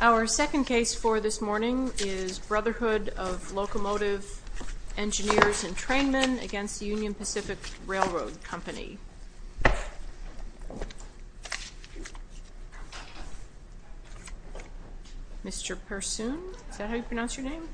Our second case for this morning is Brotherhood of Locomotive Engineers and Trainmen v. Union Pacific Railroad Company. Brotherhood of Locomotive Engineers and Trainmen v. Union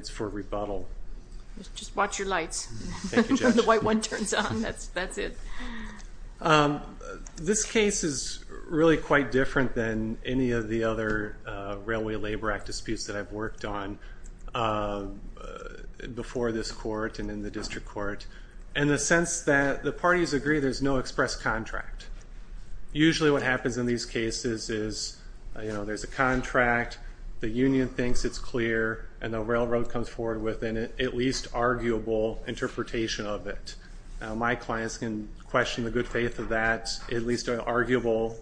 Pacific Railroad Company Just watch your lights when the white one turns on, that's it. This case is really quite different than any of the other Railway Labor Act disputes that I've worked on before this court and in the District Court in the sense that the parties agree there's no express contract. Usually what happens in these cases is there's a contract, the Union thinks it's clear, and the Railroad comes forward with an at least arguable interpretation of it. My clients can question the good faith of that, at least an arguable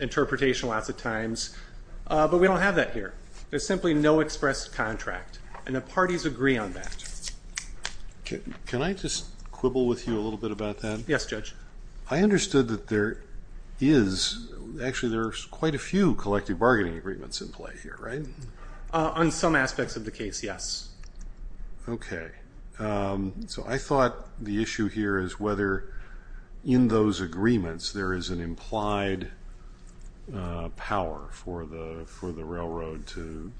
interpretation lots of times, but we don't have that here. There's simply no express contract, and the parties agree on that. Can I just quibble with you a little bit about that? Yes, Judge. I understood that there is, actually there's quite a few collective bargaining agreements in play here, right? On some aspects of the case, yes. Okay, so I thought the issue here is whether in those agreements there is an implied power for the Railroad to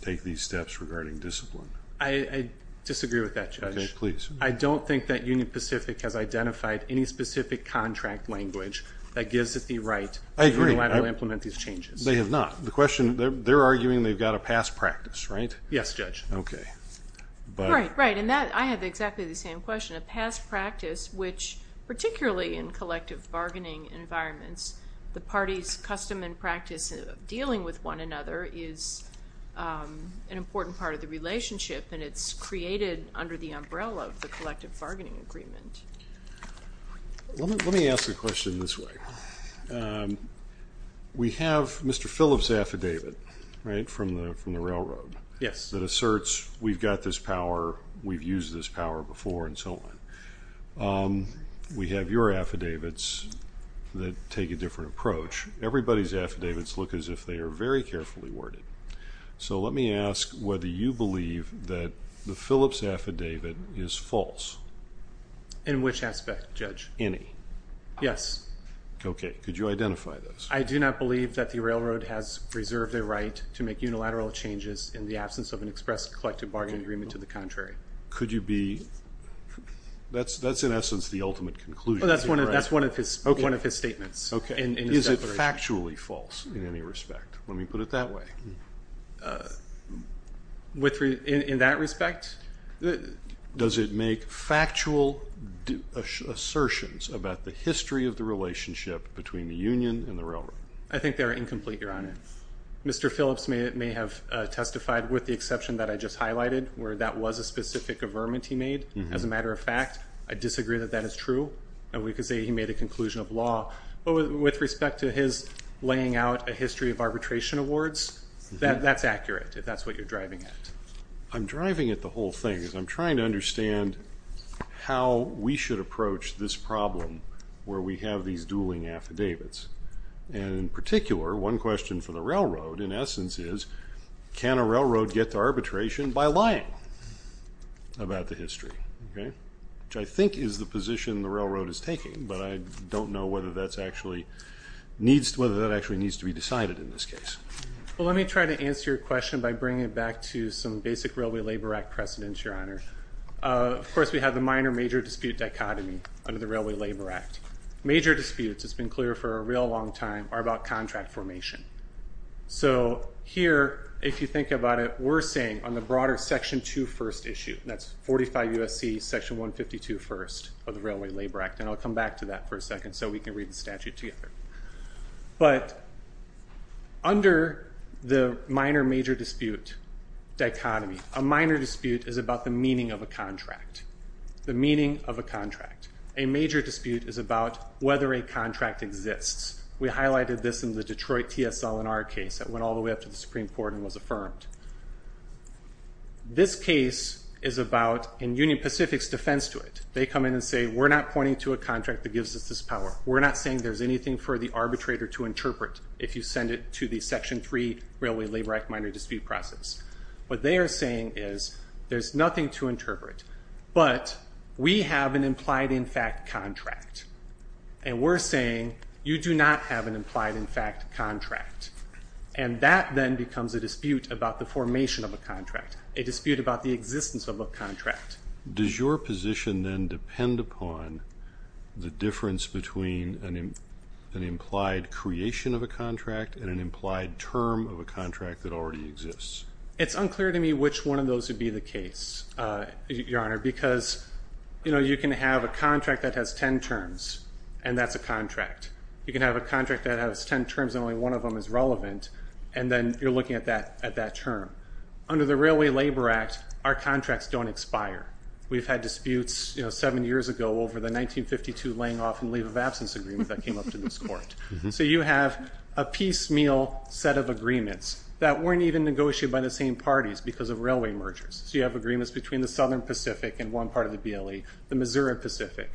take these steps regarding discipline. I disagree with that, Judge. Okay, please. I don't think that Union Pacific has identified any specific contract language that gives it the right to implement these changes. I agree. They have not. The question, they're arguing they've got a past practice, right? Yes, Judge. Okay. Right, right, and I have exactly the same question. which, particularly in collective bargaining environments, the parties' custom and practice of dealing with one another is an important part of the relationship, and it's created under the umbrella of the collective bargaining agreement. Let me ask a question this way. We have Mr. Phillips' affidavit, right, from the Railroad. Yes. That asserts we've got this power, we've used this power before, and so on. We have your affidavits that take a different approach. Everybody's affidavits look as if they are very carefully worded. So let me ask whether you believe that the Phillips' affidavit is false. In which aspect, Judge? Any. Yes. Okay. Could you identify those? I do not believe that the Railroad has reserved a right to make unilateral changes in the absence of an express collective bargaining agreement to the contrary. Could you be? That's, in essence, the ultimate conclusion. That's one of his statements. Okay. Is it factually false in any respect? Let me put it that way. In that respect? Does it make factual assertions about the history of the relationship between the union and the Railroad? I think they're incomplete, Your Honor. Mr. Phillips may have testified, with the exception that I just highlighted, where that was a specific averment he made. As a matter of fact, I disagree that that is true. We could say he made a conclusion of law. But with respect to his laying out a history of arbitration awards, that's accurate, if that's what you're driving at. I'm driving at the whole thing. I'm trying to understand how we should approach this problem where we have these dueling affidavits. And in particular, one question for the Railroad, in essence, is can a Railroad get to arbitration by lying about the history? Okay? Which I think is the position the Railroad is taking, but I don't know whether that actually needs to be decided in this case. Well, let me try to answer your question by bringing it back to some basic Railway Labor Act precedents, Your Honor. Of course, we have the minor-major dispute dichotomy under the Railway Labor Act. Major disputes, it's been clear for a real long time, are about contract formation. So here, if you think about it, we're saying on the broader Section 2 First issue, that's 45 U.S.C. Section 152 First of the Railway Labor Act. And I'll come back to that for a second so we can read the statute together. But under the minor-major dispute dichotomy, a minor dispute is about the meaning of a contract. The meaning of a contract. A major dispute is about whether a contract exists. We highlighted this in the Detroit TSL in our case. It went all the way up to the Supreme Court and was affirmed. This case is about, in Union Pacific's defense to it, they come in and say, we're not pointing to a contract that gives us this power. We're not saying there's anything for the arbitrator to interpret if you send it to the Section 3 Railway Labor Act minor dispute process. What they are saying is, there's nothing to interpret. But we have an implied-in-fact contract. And we're saying, you do not have an implied-in-fact contract. And that then becomes a dispute about the formation of a contract. A dispute about the existence of a contract. Does your position then depend upon the difference between an implied creation of a contract and an implied term of a contract that already exists? It's unclear to me which one of those would be the case, Your Honor, because, you know, you can have a contract that has ten terms, and that's a contract. You can have a contract that has ten terms and only one of them is relevant, and then you're looking at that term. Under the Railway Labor Act, our contracts don't expire. We've had disputes, you know, seven years ago over the 1952 laying off and leave of absence agreement that came up in this court. So you have a piecemeal set of agreements that weren't even negotiated by the same parties because of railway mergers. So you have agreements between the Southern Pacific and one part of the BLE, the Missouri Pacific.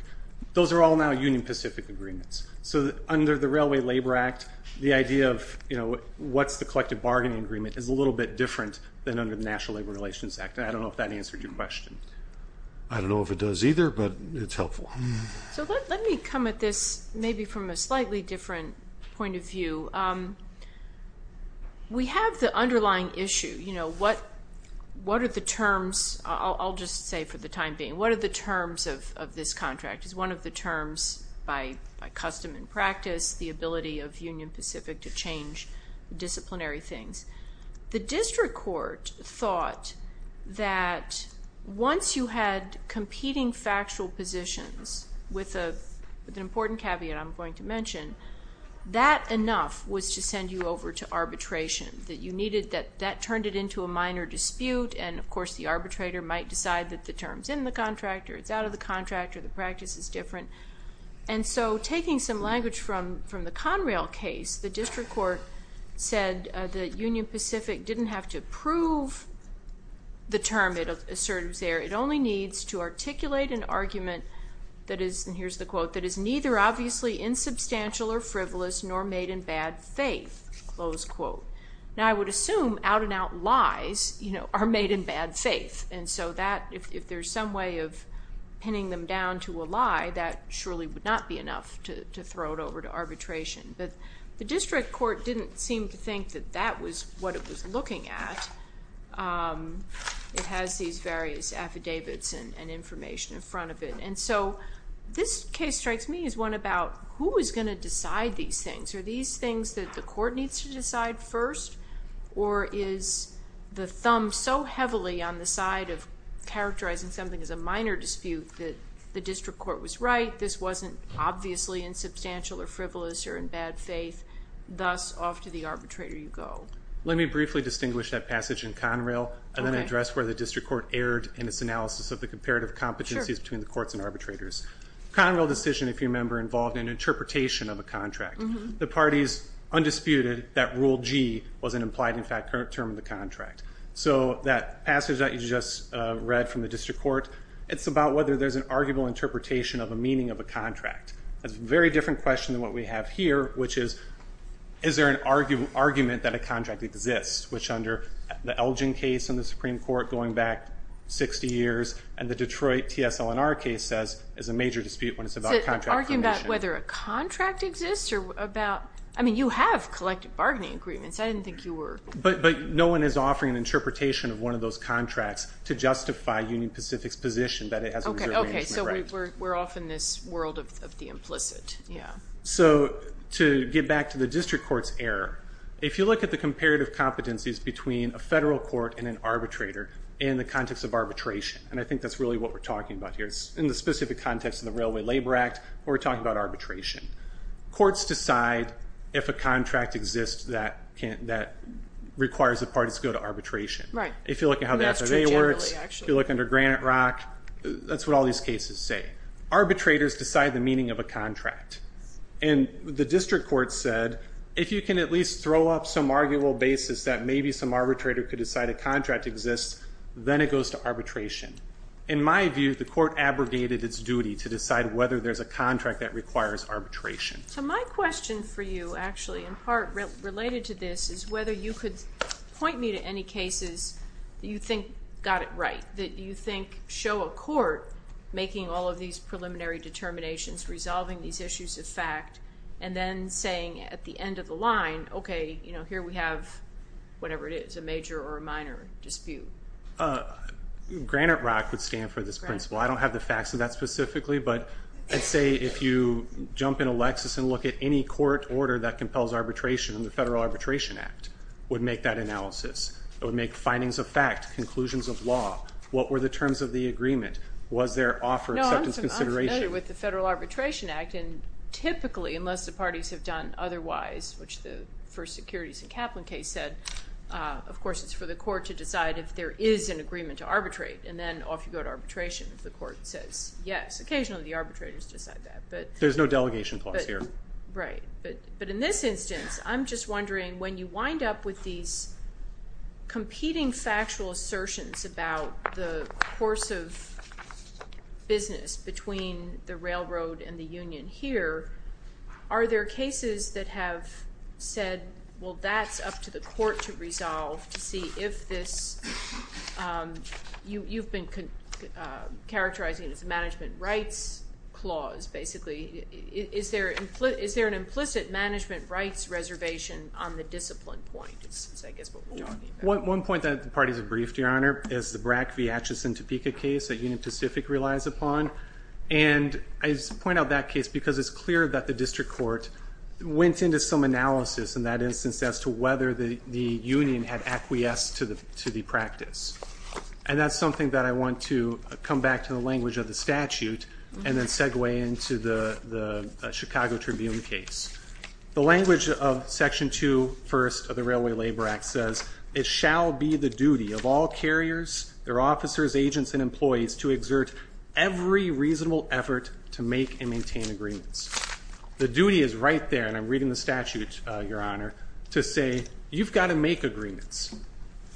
Those are all now Union Pacific agreements. So under the Railway Labor Act, the idea of, you know, what's the collective bargaining agreement is a little bit different than under the National Labor Relations Act, and I don't know if that answered your question. I don't know if it does either, but it's helpful. So let me come at this maybe from a slightly different point of view. We have the underlying issue. You know, what are the terms? I'll just say for the time being, what are the terms of this contract? Contract is one of the terms by custom and practice, the ability of Union Pacific to change disciplinary things. The district court thought that once you had competing factual positions with an important caveat I'm going to mention, that enough was to send you over to arbitration, that you needed that. That turned it into a minor dispute, and, of course, the arbitrator might decide that the term's in the contract or it's out of the contract or the practice is different. And so taking some language from the Conrail case, the district court said that Union Pacific didn't have to prove the term. It only needs to articulate an argument that is, and here's the quote, that is neither obviously insubstantial or frivolous nor made in bad faith, close quote. Now, I would assume out-and-out lies, you know, are made in bad faith. And so that, if there's some way of pinning them down to a lie, that surely would not be enough to throw it over to arbitration. But the district court didn't seem to think that that was what it was looking at. It has these various affidavits and information in front of it. And so this case strikes me as one about who is going to decide these things. Are these things that the court needs to decide first, or is the thumb so heavily on the side of characterizing something as a minor dispute that the district court was right, this wasn't obviously insubstantial or frivolous or in bad faith, thus off to the arbitrator you go. Let me briefly distinguish that passage in Conrail and then address where the district court erred in its analysis of the comparative competencies between the courts and arbitrators. Conrail decision, if you remember, involved an interpretation of a contract. The parties undisputed that Rule G was an implied, in fact, term of the contract. So that passage that you just read from the district court, it's about whether there's an arguable interpretation of a meaning of a contract. That's a very different question than what we have here, which is, is there an argument that a contract exists, which under the Elgin case in the Supreme Court going back 60 years and the Detroit TSLNR case says is a major dispute when it's about contract. So arguing about whether a contract exists or about, I mean, you have collective bargaining agreements. I didn't think you were. But no one is offering an interpretation of one of those contracts to justify Union Pacific's position that it has a reserve management right. Okay, so we're off in this world of the implicit, yeah. So to get back to the district court's error, if you look at the comparative competencies between a federal court and an arbitrator in the context of arbitration, and I think that's really what we're talking about here, in the specific context of the Railway Labor Act, we're talking about arbitration. Courts decide if a contract exists that requires the parties to go to arbitration. Right. If you look at how the SRA works, if you look under Granite Rock, that's what all these cases say. Arbitrators decide the meaning of a contract. And the district court said, if you can at least throw up some arguable basis that maybe some arbitrator could decide a contract exists, then it goes to arbitration. In my view, the court abrogated its duty to decide whether there's a contract that requires arbitration. So my question for you, actually, in part related to this, is whether you could point me to any cases that you think got it right, that you think show a court making all of these preliminary determinations, resolving these issues of fact, and then saying at the end of the line, okay, here we have whatever it is, a major or a minor dispute. Granite Rock would stand for this principle. I don't have the facts of that specifically, but I'd say if you jump into Lexis and look at any court order that compels arbitration, the Federal Arbitration Act would make that analysis. It would make findings of fact, conclusions of law. What were the terms of the agreement? Was there offer of acceptance consideration? No, I'm familiar with the Federal Arbitration Act, and typically, unless the parties have done otherwise, which the first securities and Kaplan case said, of course, it's for the court to decide if there is an agreement to arbitrate. And then off you go to arbitration if the court says yes. Occasionally, the arbitrators decide that. There's no delegation clause here. Right. But in this instance, I'm just wondering when you wind up with these competing factual assertions about the course of business between the railroad and the union here, are there cases that have said, well, that's up to the court to resolve to see if this you've been characterizing as a management rights clause, basically. Is there an implicit management rights reservation on the discipline point? That's, I guess, what we're talking about. One point that the parties have briefed, Your Honor, is the Brack v. Atchison Topeka case that Union Pacific relies upon. And I point out that case because it's clear that the district court went into some analysis in that instance as to whether the union had acquiesced to the practice. And that's something that I want to come back to the language of the statute and then segue into the Chicago Tribune case. The language of Section 2, First of the Railway Labor Act says, it shall be the duty of all carriers, their officers, agents, and employees to exert every reasonable effort to make and maintain agreements. The duty is right there, and I'm reading the statute, Your Honor, to say you've got to make agreements.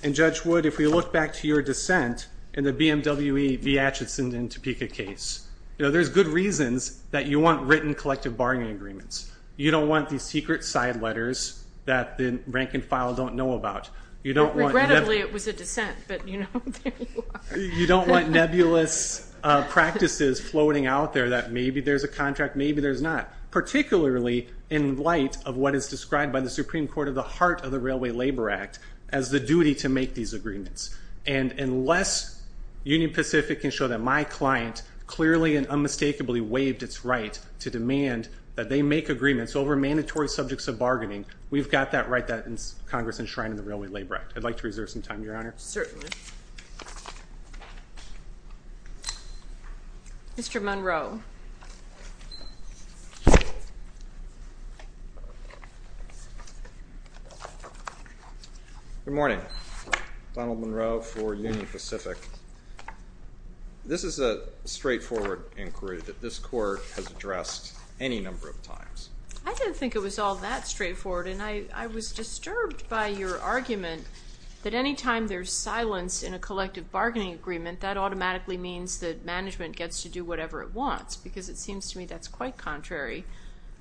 And Judge Wood, if we look back to your dissent in the BMW v. Atchison Topeka case, there's good reasons that you want written collective bargaining agreements. You don't want these secret side letters that the rank and file don't know about. Regrettably, it was a dissent, but there you are. You don't want nebulous practices floating out there that maybe there's a contract, maybe there's not, particularly in light of what is described by the Supreme Court of the heart of the Railway Labor Act as the duty to make these agreements. And unless Union Pacific can show that my client clearly and unmistakably waived its right to demand that they make agreements over mandatory subjects of bargaining, we've got that right that is Congress enshrined in the Railway Labor Act. I'd like to reserve some time, Your Honor. Certainly. Thank you. Mr. Monroe. Good morning. Donald Monroe for Union Pacific. This is a straightforward inquiry that this court has addressed any number of times. I didn't think it was all that straightforward, and I was disturbed by your argument that any time there's silence in a collective bargaining agreement, that automatically means that management gets to do whatever it wants, because it seems to me that's quite contrary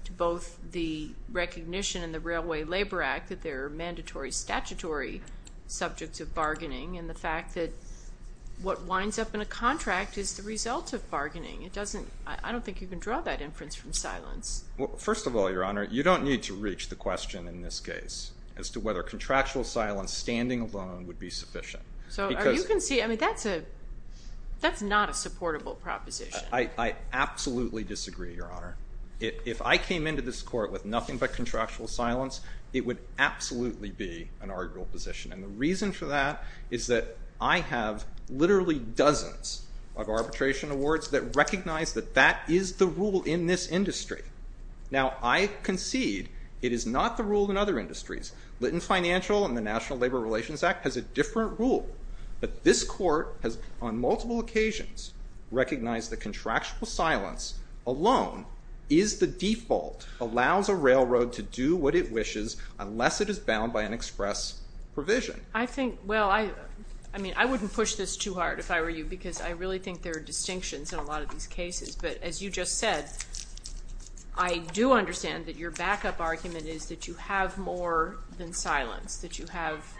to both the recognition in the Railway Labor Act that there are mandatory statutory subjects of bargaining and the fact that what winds up in a contract is the result of bargaining. I don't think you can draw that inference from silence. First of all, Your Honor, you don't need to reach the question in this case as to whether contractual silence standing alone would be sufficient. You can see that's not a supportable proposition. I absolutely disagree, Your Honor. If I came into this court with nothing but contractual silence, it would absolutely be an arguable position, and the reason for that is that I have literally dozens of arbitration awards that recognize that that is the rule in this industry. Now, I concede it is not the rule in other industries. Lytton Financial and the National Labor Relations Act has a different rule, but this court has on multiple occasions recognized that contractual silence alone is the default, allows a railroad to do what it wishes unless it is bound by an express provision. I think, well, I mean, I wouldn't push this too hard if I were you because I really think there are distinctions in a lot of these cases, but as you just said, I do understand that your backup argument is that you have more than silence, that you have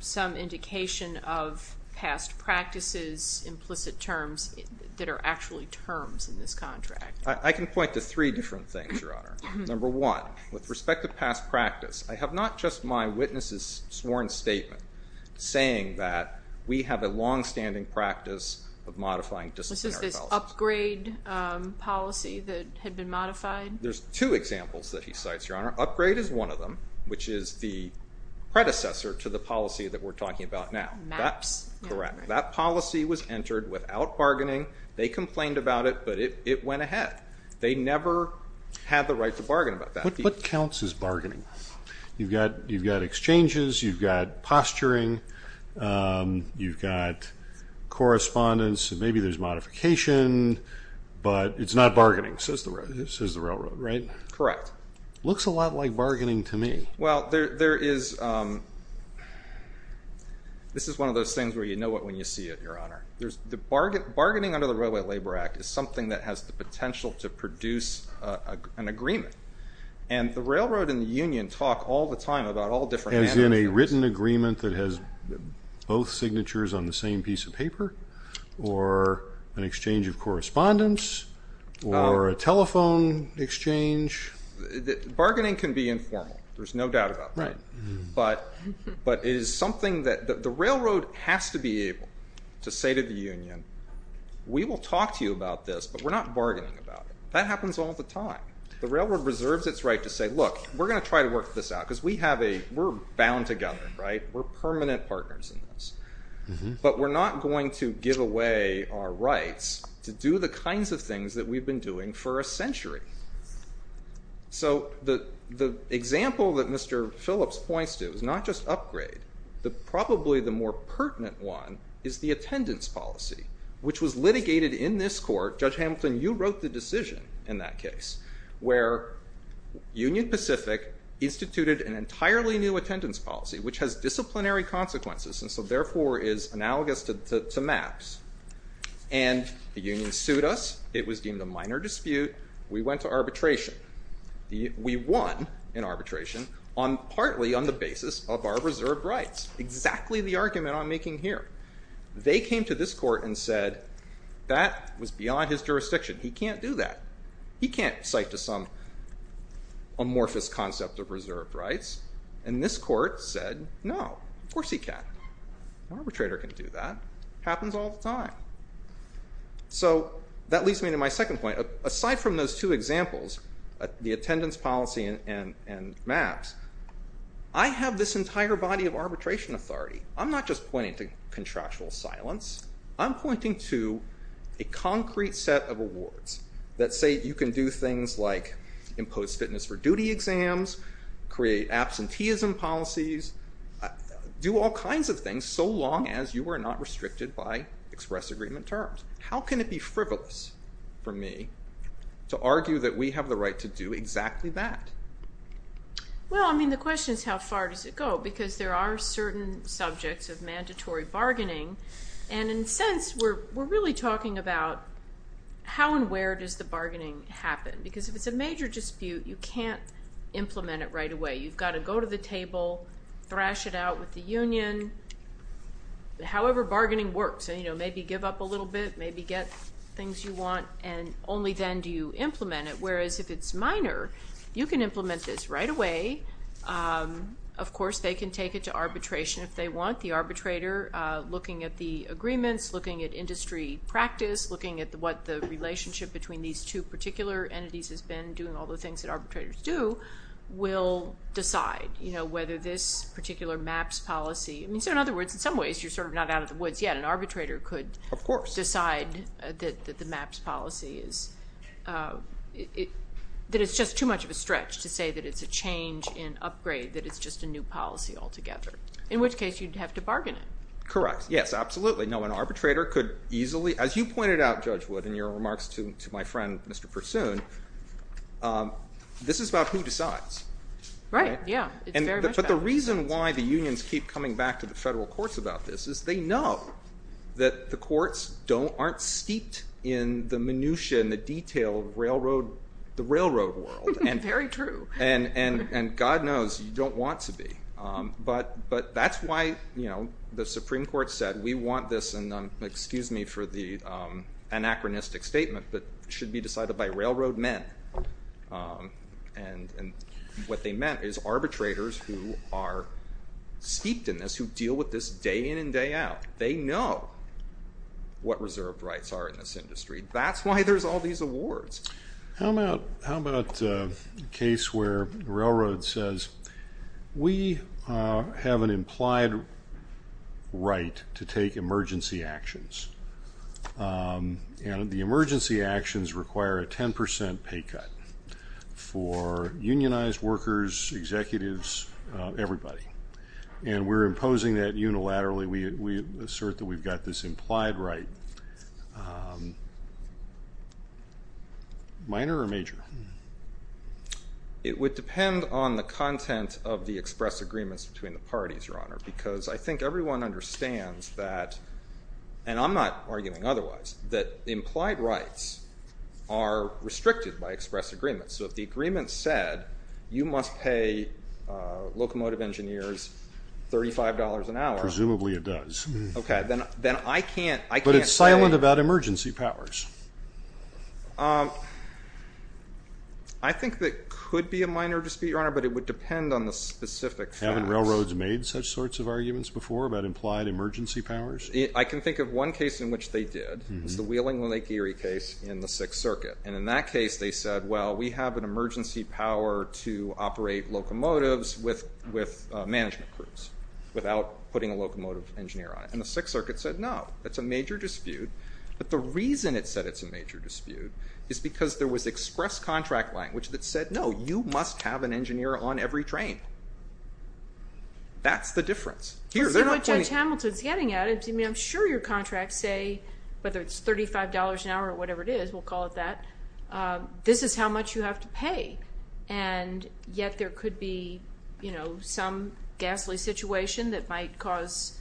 some indication of past practices, implicit terms, that are actually terms in this contract. I can point to three different things, Your Honor. Number one, with respect to past practice, I have not just my witness's sworn statement saying that we have a longstanding practice of modifying disciplinary policy. This is this upgrade policy that had been modified? There's two examples that he cites, Your Honor. Upgrade is one of them, which is the predecessor to the policy that we're talking about now. MAPS. Correct. That policy was entered without bargaining. They complained about it, but it went ahead. They never had the right to bargain about that. What counts as bargaining? You've got exchanges. You've got posturing. You've got correspondence. Maybe there's modification, but it's not bargaining, says the railroad, right? Correct. Looks a lot like bargaining to me. Well, this is one of those things where you know it when you see it, Your Honor. Bargaining under the Railway Labor Act is something that has the potential to produce an agreement, and the railroad and the union talk all the time about all different avenues. As in a written agreement that has both signatures on the same piece of paper or an exchange of correspondence or a telephone exchange? Bargaining can be informal, there's no doubt about that, but it is something that the railroad has to be able to say to the union, we will talk to you about this, but we're not bargaining about it. That happens all the time. The railroad reserves its right to say, look, we're going to try to work this out because we're bound together, right? We're permanent partners in this, but we're not going to give away our rights to do the kinds of things that we've been doing for a century. So the example that Mr. Phillips points to is not just upgrade. Probably the more pertinent one is the attendance policy, which was litigated in this court. Judge Hamilton, you wrote the decision in that case where Union Pacific instituted an entirely new attendance policy, which has disciplinary consequences and so therefore is analogous to MAPS, and the union sued us. It was deemed a minor dispute. We went to arbitration. We won in arbitration partly on the basis of our reserved rights, exactly the argument I'm making here. They came to this court and said that was beyond his jurisdiction. He can't do that. He can't cite to some amorphous concept of reserved rights, and this court said no, of course he can. An arbitrator can do that. It happens all the time. So that leads me to my second point. Aside from those two examples, the attendance policy and MAPS, I have this entire body of arbitration authority. I'm not just pointing to contractual silence. I'm pointing to a concrete set of awards that say you can do things like impose fitness for duty exams, create absenteeism policies, do all kinds of things so long as you are not restricted by express agreement terms. How can it be frivolous for me to argue that we have the right to do exactly that? Well, I mean, the question is how far does it go? Because there are certain subjects of mandatory bargaining, and in a sense we're really talking about how and where does the bargaining happen? Because if it's a major dispute, you can't implement it right away. You've got to go to the table, thrash it out with the union. However bargaining works, maybe give up a little bit, maybe get things you want, and only then do you implement it. Whereas if it's minor, you can implement this right away. Of course, they can take it to arbitration if they want. The arbitrator, looking at the agreements, looking at industry practice, looking at what the relationship between these two particular entities has been, doing all the things that arbitrators do, will decide whether this particular MAPS policy, I mean, so in other words, in some ways you're sort of not out of the woods yet. An arbitrator could decide that the MAPS policy is, that it's just too much of a stretch to say that it's a change in upgrade, that it's just a new policy altogether, in which case you'd have to bargain it. Correct, yes, absolutely. No, an arbitrator could easily, as you pointed out, Judge Wood, in your remarks to my friend Mr. Pursoon, this is about who decides. Right, yeah. But the reason why the unions keep coming back to the federal courts about this is they know that the courts aren't steeped in the minutia and the detail of the railroad world. Very true. And God knows you don't want to be. But that's why the Supreme Court said we want this, and excuse me for the anachronistic statement, but it should be decided by railroad men. And what they meant is arbitrators who are steeped in this, who deal with this day in and day out, they know what reserved rights are in this industry. That's why there's all these awards. How about a case where the railroad says, we have an implied right to take emergency actions, and the emergency actions require a 10 percent pay cut for unionized workers, executives, everybody, and we're imposing that unilaterally. We assert that we've got this implied right. Minor or major? It would depend on the content of the express agreements between the parties, Your Honor, because I think everyone understands that, and I'm not arguing otherwise, that implied rights are restricted by express agreements. So if the agreement said you must pay locomotive engineers $35 an hour. Presumably it does. Okay, then I can't say. But it's silent about emergency powers. I think that could be a minor dispute, Your Honor, but it would depend on the specific facts. Haven't railroads made such sorts of arguments before about implied emergency powers? I can think of one case in which they did. It was the Wheeling-Lake Erie case in the Sixth Circuit. And in that case they said, well, we have an emergency power to operate locomotives with management crews without putting a locomotive engineer on it. And the Sixth Circuit said, no, that's a major dispute. But the reason it said it's a major dispute is because there was express contract language that said, no, you must have an engineer on every train. That's the difference. See what Judge Hamilton's getting at. I'm sure your contracts say, whether it's $35 an hour or whatever it is, we'll call it that, this is how much you have to pay. And yet there could be some ghastly situation that might cause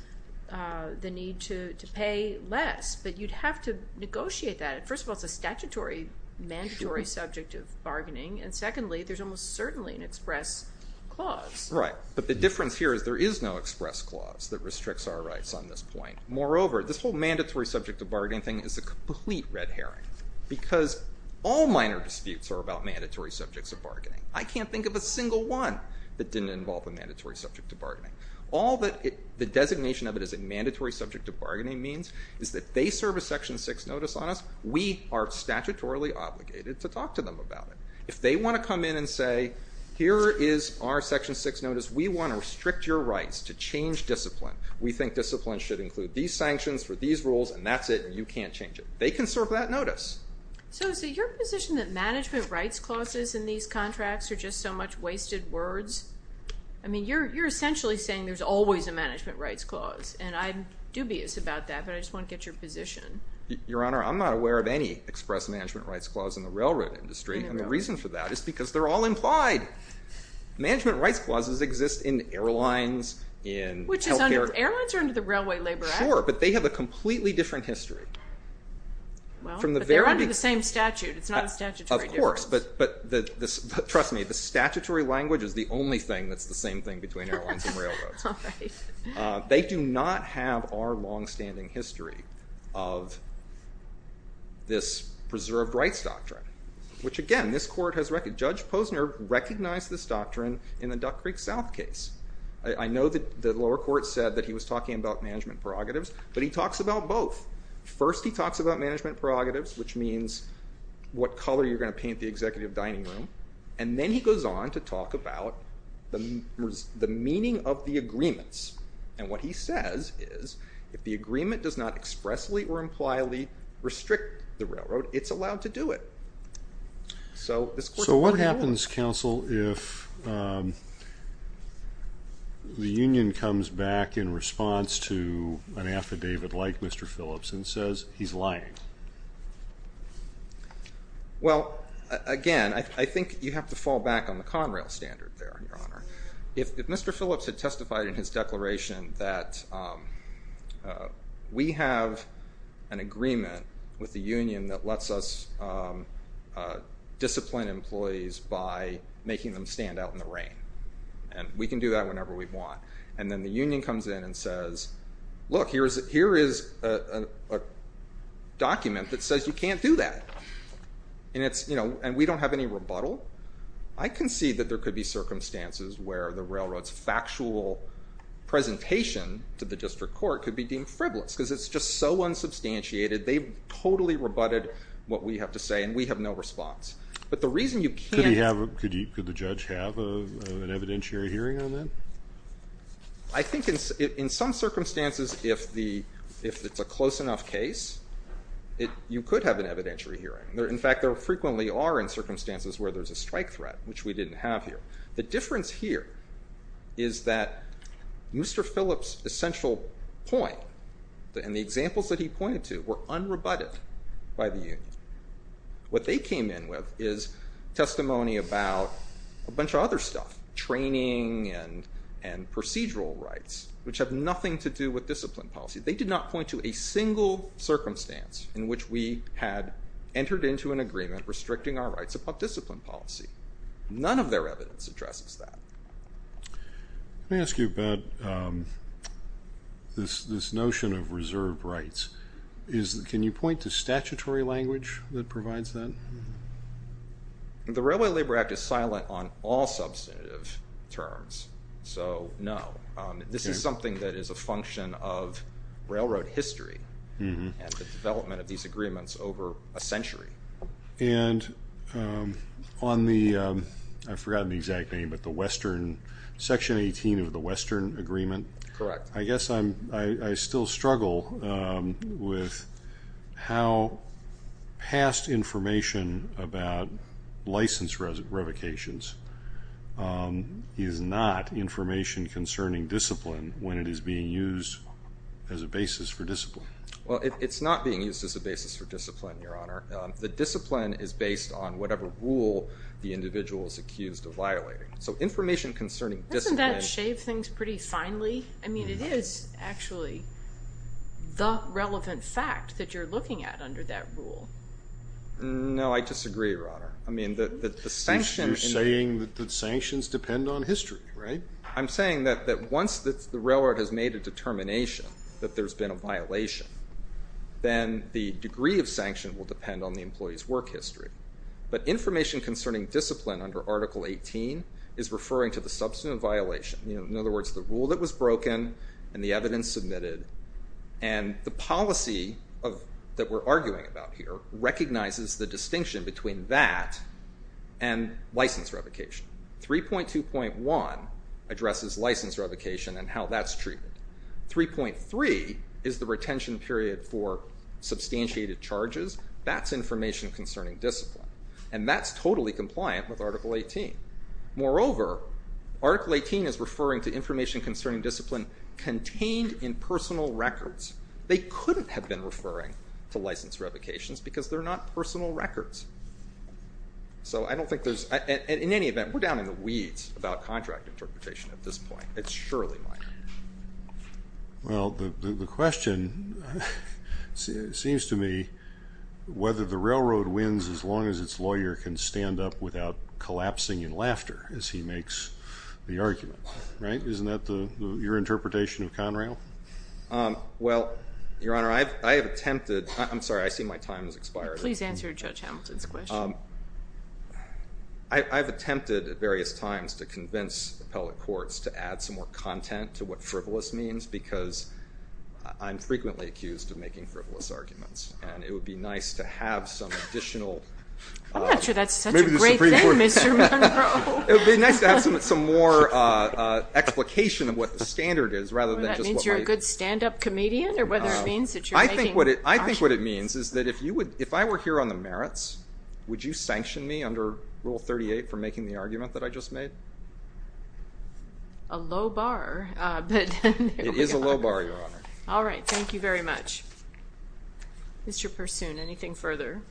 the need to pay less. But you'd have to negotiate that. First of all, it's a statutory, mandatory subject of bargaining. And secondly, there's almost certainly an express clause. Right. But the difference here is there is no express clause that restricts our rights on this point. Moreover, this whole mandatory subject of bargaining thing is a complete red herring because all minor disputes are about mandatory subjects of bargaining. I can't think of a single one that didn't involve a mandatory subject of bargaining. All that the designation of it as a mandatory subject of bargaining means is that they serve a Section 6 notice on us. We are statutorily obligated to talk to them about it. If they want to come in and say, here is our Section 6 notice. We want to restrict your rights to change discipline. We think discipline should include these sanctions for these rules, and that's it, and you can't change it. They can serve that notice. So is it your position that management rights clauses in these contracts are just so much wasted words? I mean, you're essentially saying there's always a management rights clause, and I'm dubious about that, but I just want to get your position. Your Honor, I'm not aware of any express management rights clause in the railroad industry. And the reason for that is because they're all implied. Management rights clauses exist in airlines, in health care. Airlines are under the Railway Labor Act. Sure, but they have a completely different history. Well, but they're under the same statute. It's not a statutory difference. Of course, but trust me, the statutory language is the only thing that's the same thing between airlines and railroads. They do not have our longstanding history of this preserved rights doctrine, which again, this court has recognized. Judge Posner recognized this doctrine in the Duck Creek South case. I know that the lower court said that he was talking about management prerogatives, but he talks about both. First, he talks about management prerogatives, which means what color you're going to paint the executive dining room, and then he goes on to talk about the meaning of the agreements. And what he says is if the agreement does not expressly or impliably restrict the railroad, it's allowed to do it. So what happens, counsel, if the union comes back in response to an affidavit like Mr. Phillips and says he's lying? Well, again, I think you have to fall back on the Conrail standard there, Your Honor. If Mr. Phillips had testified in his declaration that we have an agreement with the union that lets us discipline employees by making them stand out in the rain, and we can do that whenever we want, and then the union comes in and says, look, here is a document that says you can't do that, and we don't have any rebuttal, I can see that there could be circumstances where the railroad's factual presentation to the district court could be deemed frivolous, because it's just so unsubstantiated. They've totally rebutted what we have to say, and we have no response. Could the judge have an evidentiary hearing on that? I think in some circumstances, if it's a close enough case, you could have an evidentiary hearing. In fact, there frequently are in circumstances where there's a strike threat, which we didn't have here. The difference here is that Mr. Phillips' essential point and the examples that he pointed to were unrebutted by the union. What they came in with is testimony about a bunch of other stuff, training and procedural rights, which have nothing to do with discipline policy. They did not point to a single circumstance in which we had entered into an agreement restricting our rights about discipline policy. None of their evidence addresses that. Let me ask you about this notion of reserved rights. Can you point to statutory language that provides that? The Railway Labor Act is silent on all substantive terms, so no. This is something that is a function of railroad history and the development of these agreements over a century. I've forgotten the exact name, but Section 18 of the Western Agreement? Correct. I guess I still struggle with how past information about license revocations is not information concerning discipline when it is being used as a basis for discipline. It's not being used as a basis for discipline, Your Honor. The discipline is based on whatever rule the individual is accused of violating. Doesn't that shave things pretty finely? It is actually the relevant fact that you're looking at under that rule. No, I disagree, Your Honor. You're saying that sanctions depend on history, right? I'm saying that once the railroad has made a determination that there's been a violation, then the degree of sanction will depend on the employee's work history. But information concerning discipline under Article 18 is referring to the substantive violation. In other words, the rule that was broken and the evidence submitted, and the policy that we're arguing about here recognizes the distinction between that and license revocation. 3.2.1 addresses license revocation and how that's treated. 3.3 is the retention period for substantiated charges. That's information concerning discipline, and that's totally compliant with Article 18. Moreover, Article 18 is referring to information concerning discipline contained in personal records. They couldn't have been referring to license revocations because they're not personal records. In any event, we're down in the weeds about contract interpretation at this point. It's surely minor. Well, the question seems to me whether the railroad wins as long as its lawyer can stand up without collapsing in laughter as he makes the argument, right? Isn't that your interpretation of Conrail? Well, Your Honor, I have attempted. I'm sorry, I see my time has expired. Please answer Judge Hamilton's question. I've attempted at various times to convince appellate courts to add some more content to what frivolous means because I'm frequently accused of making frivolous arguments, and it would be nice to have some additional... I'm not sure that's such a great thing, Mr. Munro. It would be nice to have some more explication of what the standard is rather than just what my... Well, that means you're a good stand-up comedian or whether it means that you're making... I think what it means is that if I were here on the merits, would you sanction me under Rule 38 for making the argument that I just made? A low bar, but... It is a low bar, Your Honor. All right, thank you very much. Mr. Pursoon, anything further?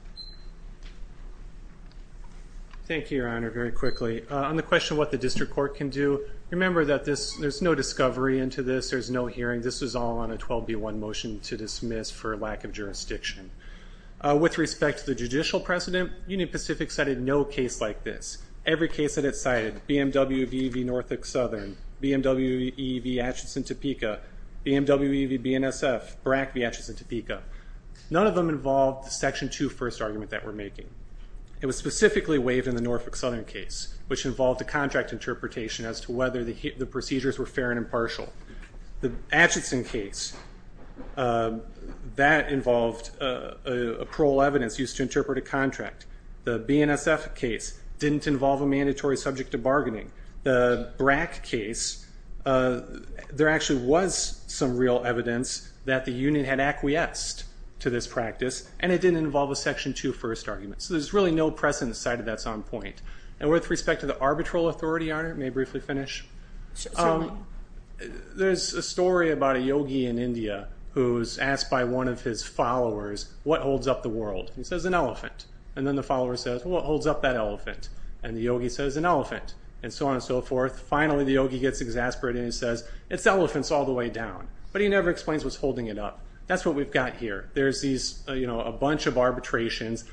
Thank you, Your Honor, very quickly. On the question of what the district court can do, remember that there's no discovery into this. There's no hearing. This was all on a 12B1 motion to dismiss for lack of jurisdiction. With respect to the judicial precedent, Union Pacific cited no case like this. Every case that it cited, BMW v. Norfolk Southern, BMW v. Atchison-Topeka, BMW v. BNSF, BRAC v. Atchison-Topeka, none of them involved the Section 2 first argument that we're making. It was specifically waived in the Norfolk Southern case, which involved a contract interpretation as to whether the procedures were fair and impartial. The Atchison case, that involved parole evidence used to interpret a contract. The BNSF case didn't involve a mandatory subject to bargaining. The BRAC case, there actually was some real evidence that the union had acquiesced to this practice, and it didn't involve a Section 2 first argument. So there's really no precedent cited that's on point. And with respect to the arbitral authority on it, may I briefly finish? Certainly. There's a story about a yogi in India who's asked by one of his followers, what holds up the world? He says, an elephant. And then the follower says, well, what holds up that elephant? And the yogi says, an elephant, and so on and so forth. Finally, the yogi gets exasperated and he says, it's elephants all the way down. But he never explains what's holding it up. That's what we've got here. There's a bunch of arbitrations,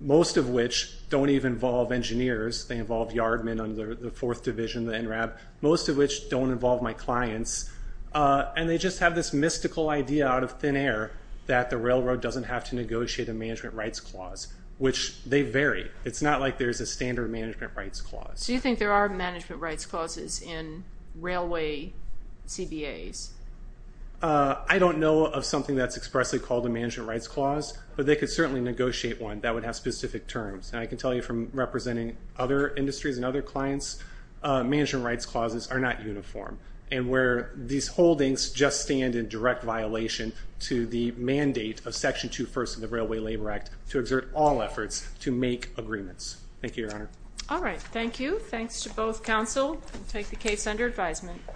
most of which don't even involve engineers. They involve yardmen under the 4th Division, the NRAB. Most of which don't involve my clients. And they just have this mystical idea out of thin air that the railroad doesn't have to negotiate a management rights clause, which they vary. It's not like there's a standard management rights clause. So you think there are management rights clauses in railway CBAs? I don't know of something that's expressly called a management rights clause. But they could certainly negotiate one that would have specific terms. And I can tell you from representing other industries and other clients, management rights clauses are not uniform. And where these holdings just stand in direct violation to the mandate of Section 2.1 of the Railway Labor Act to exert all efforts to make agreements. Thank you, Your Honor. All right. Thank you. Thanks to both counsel. We'll take the case under advisement.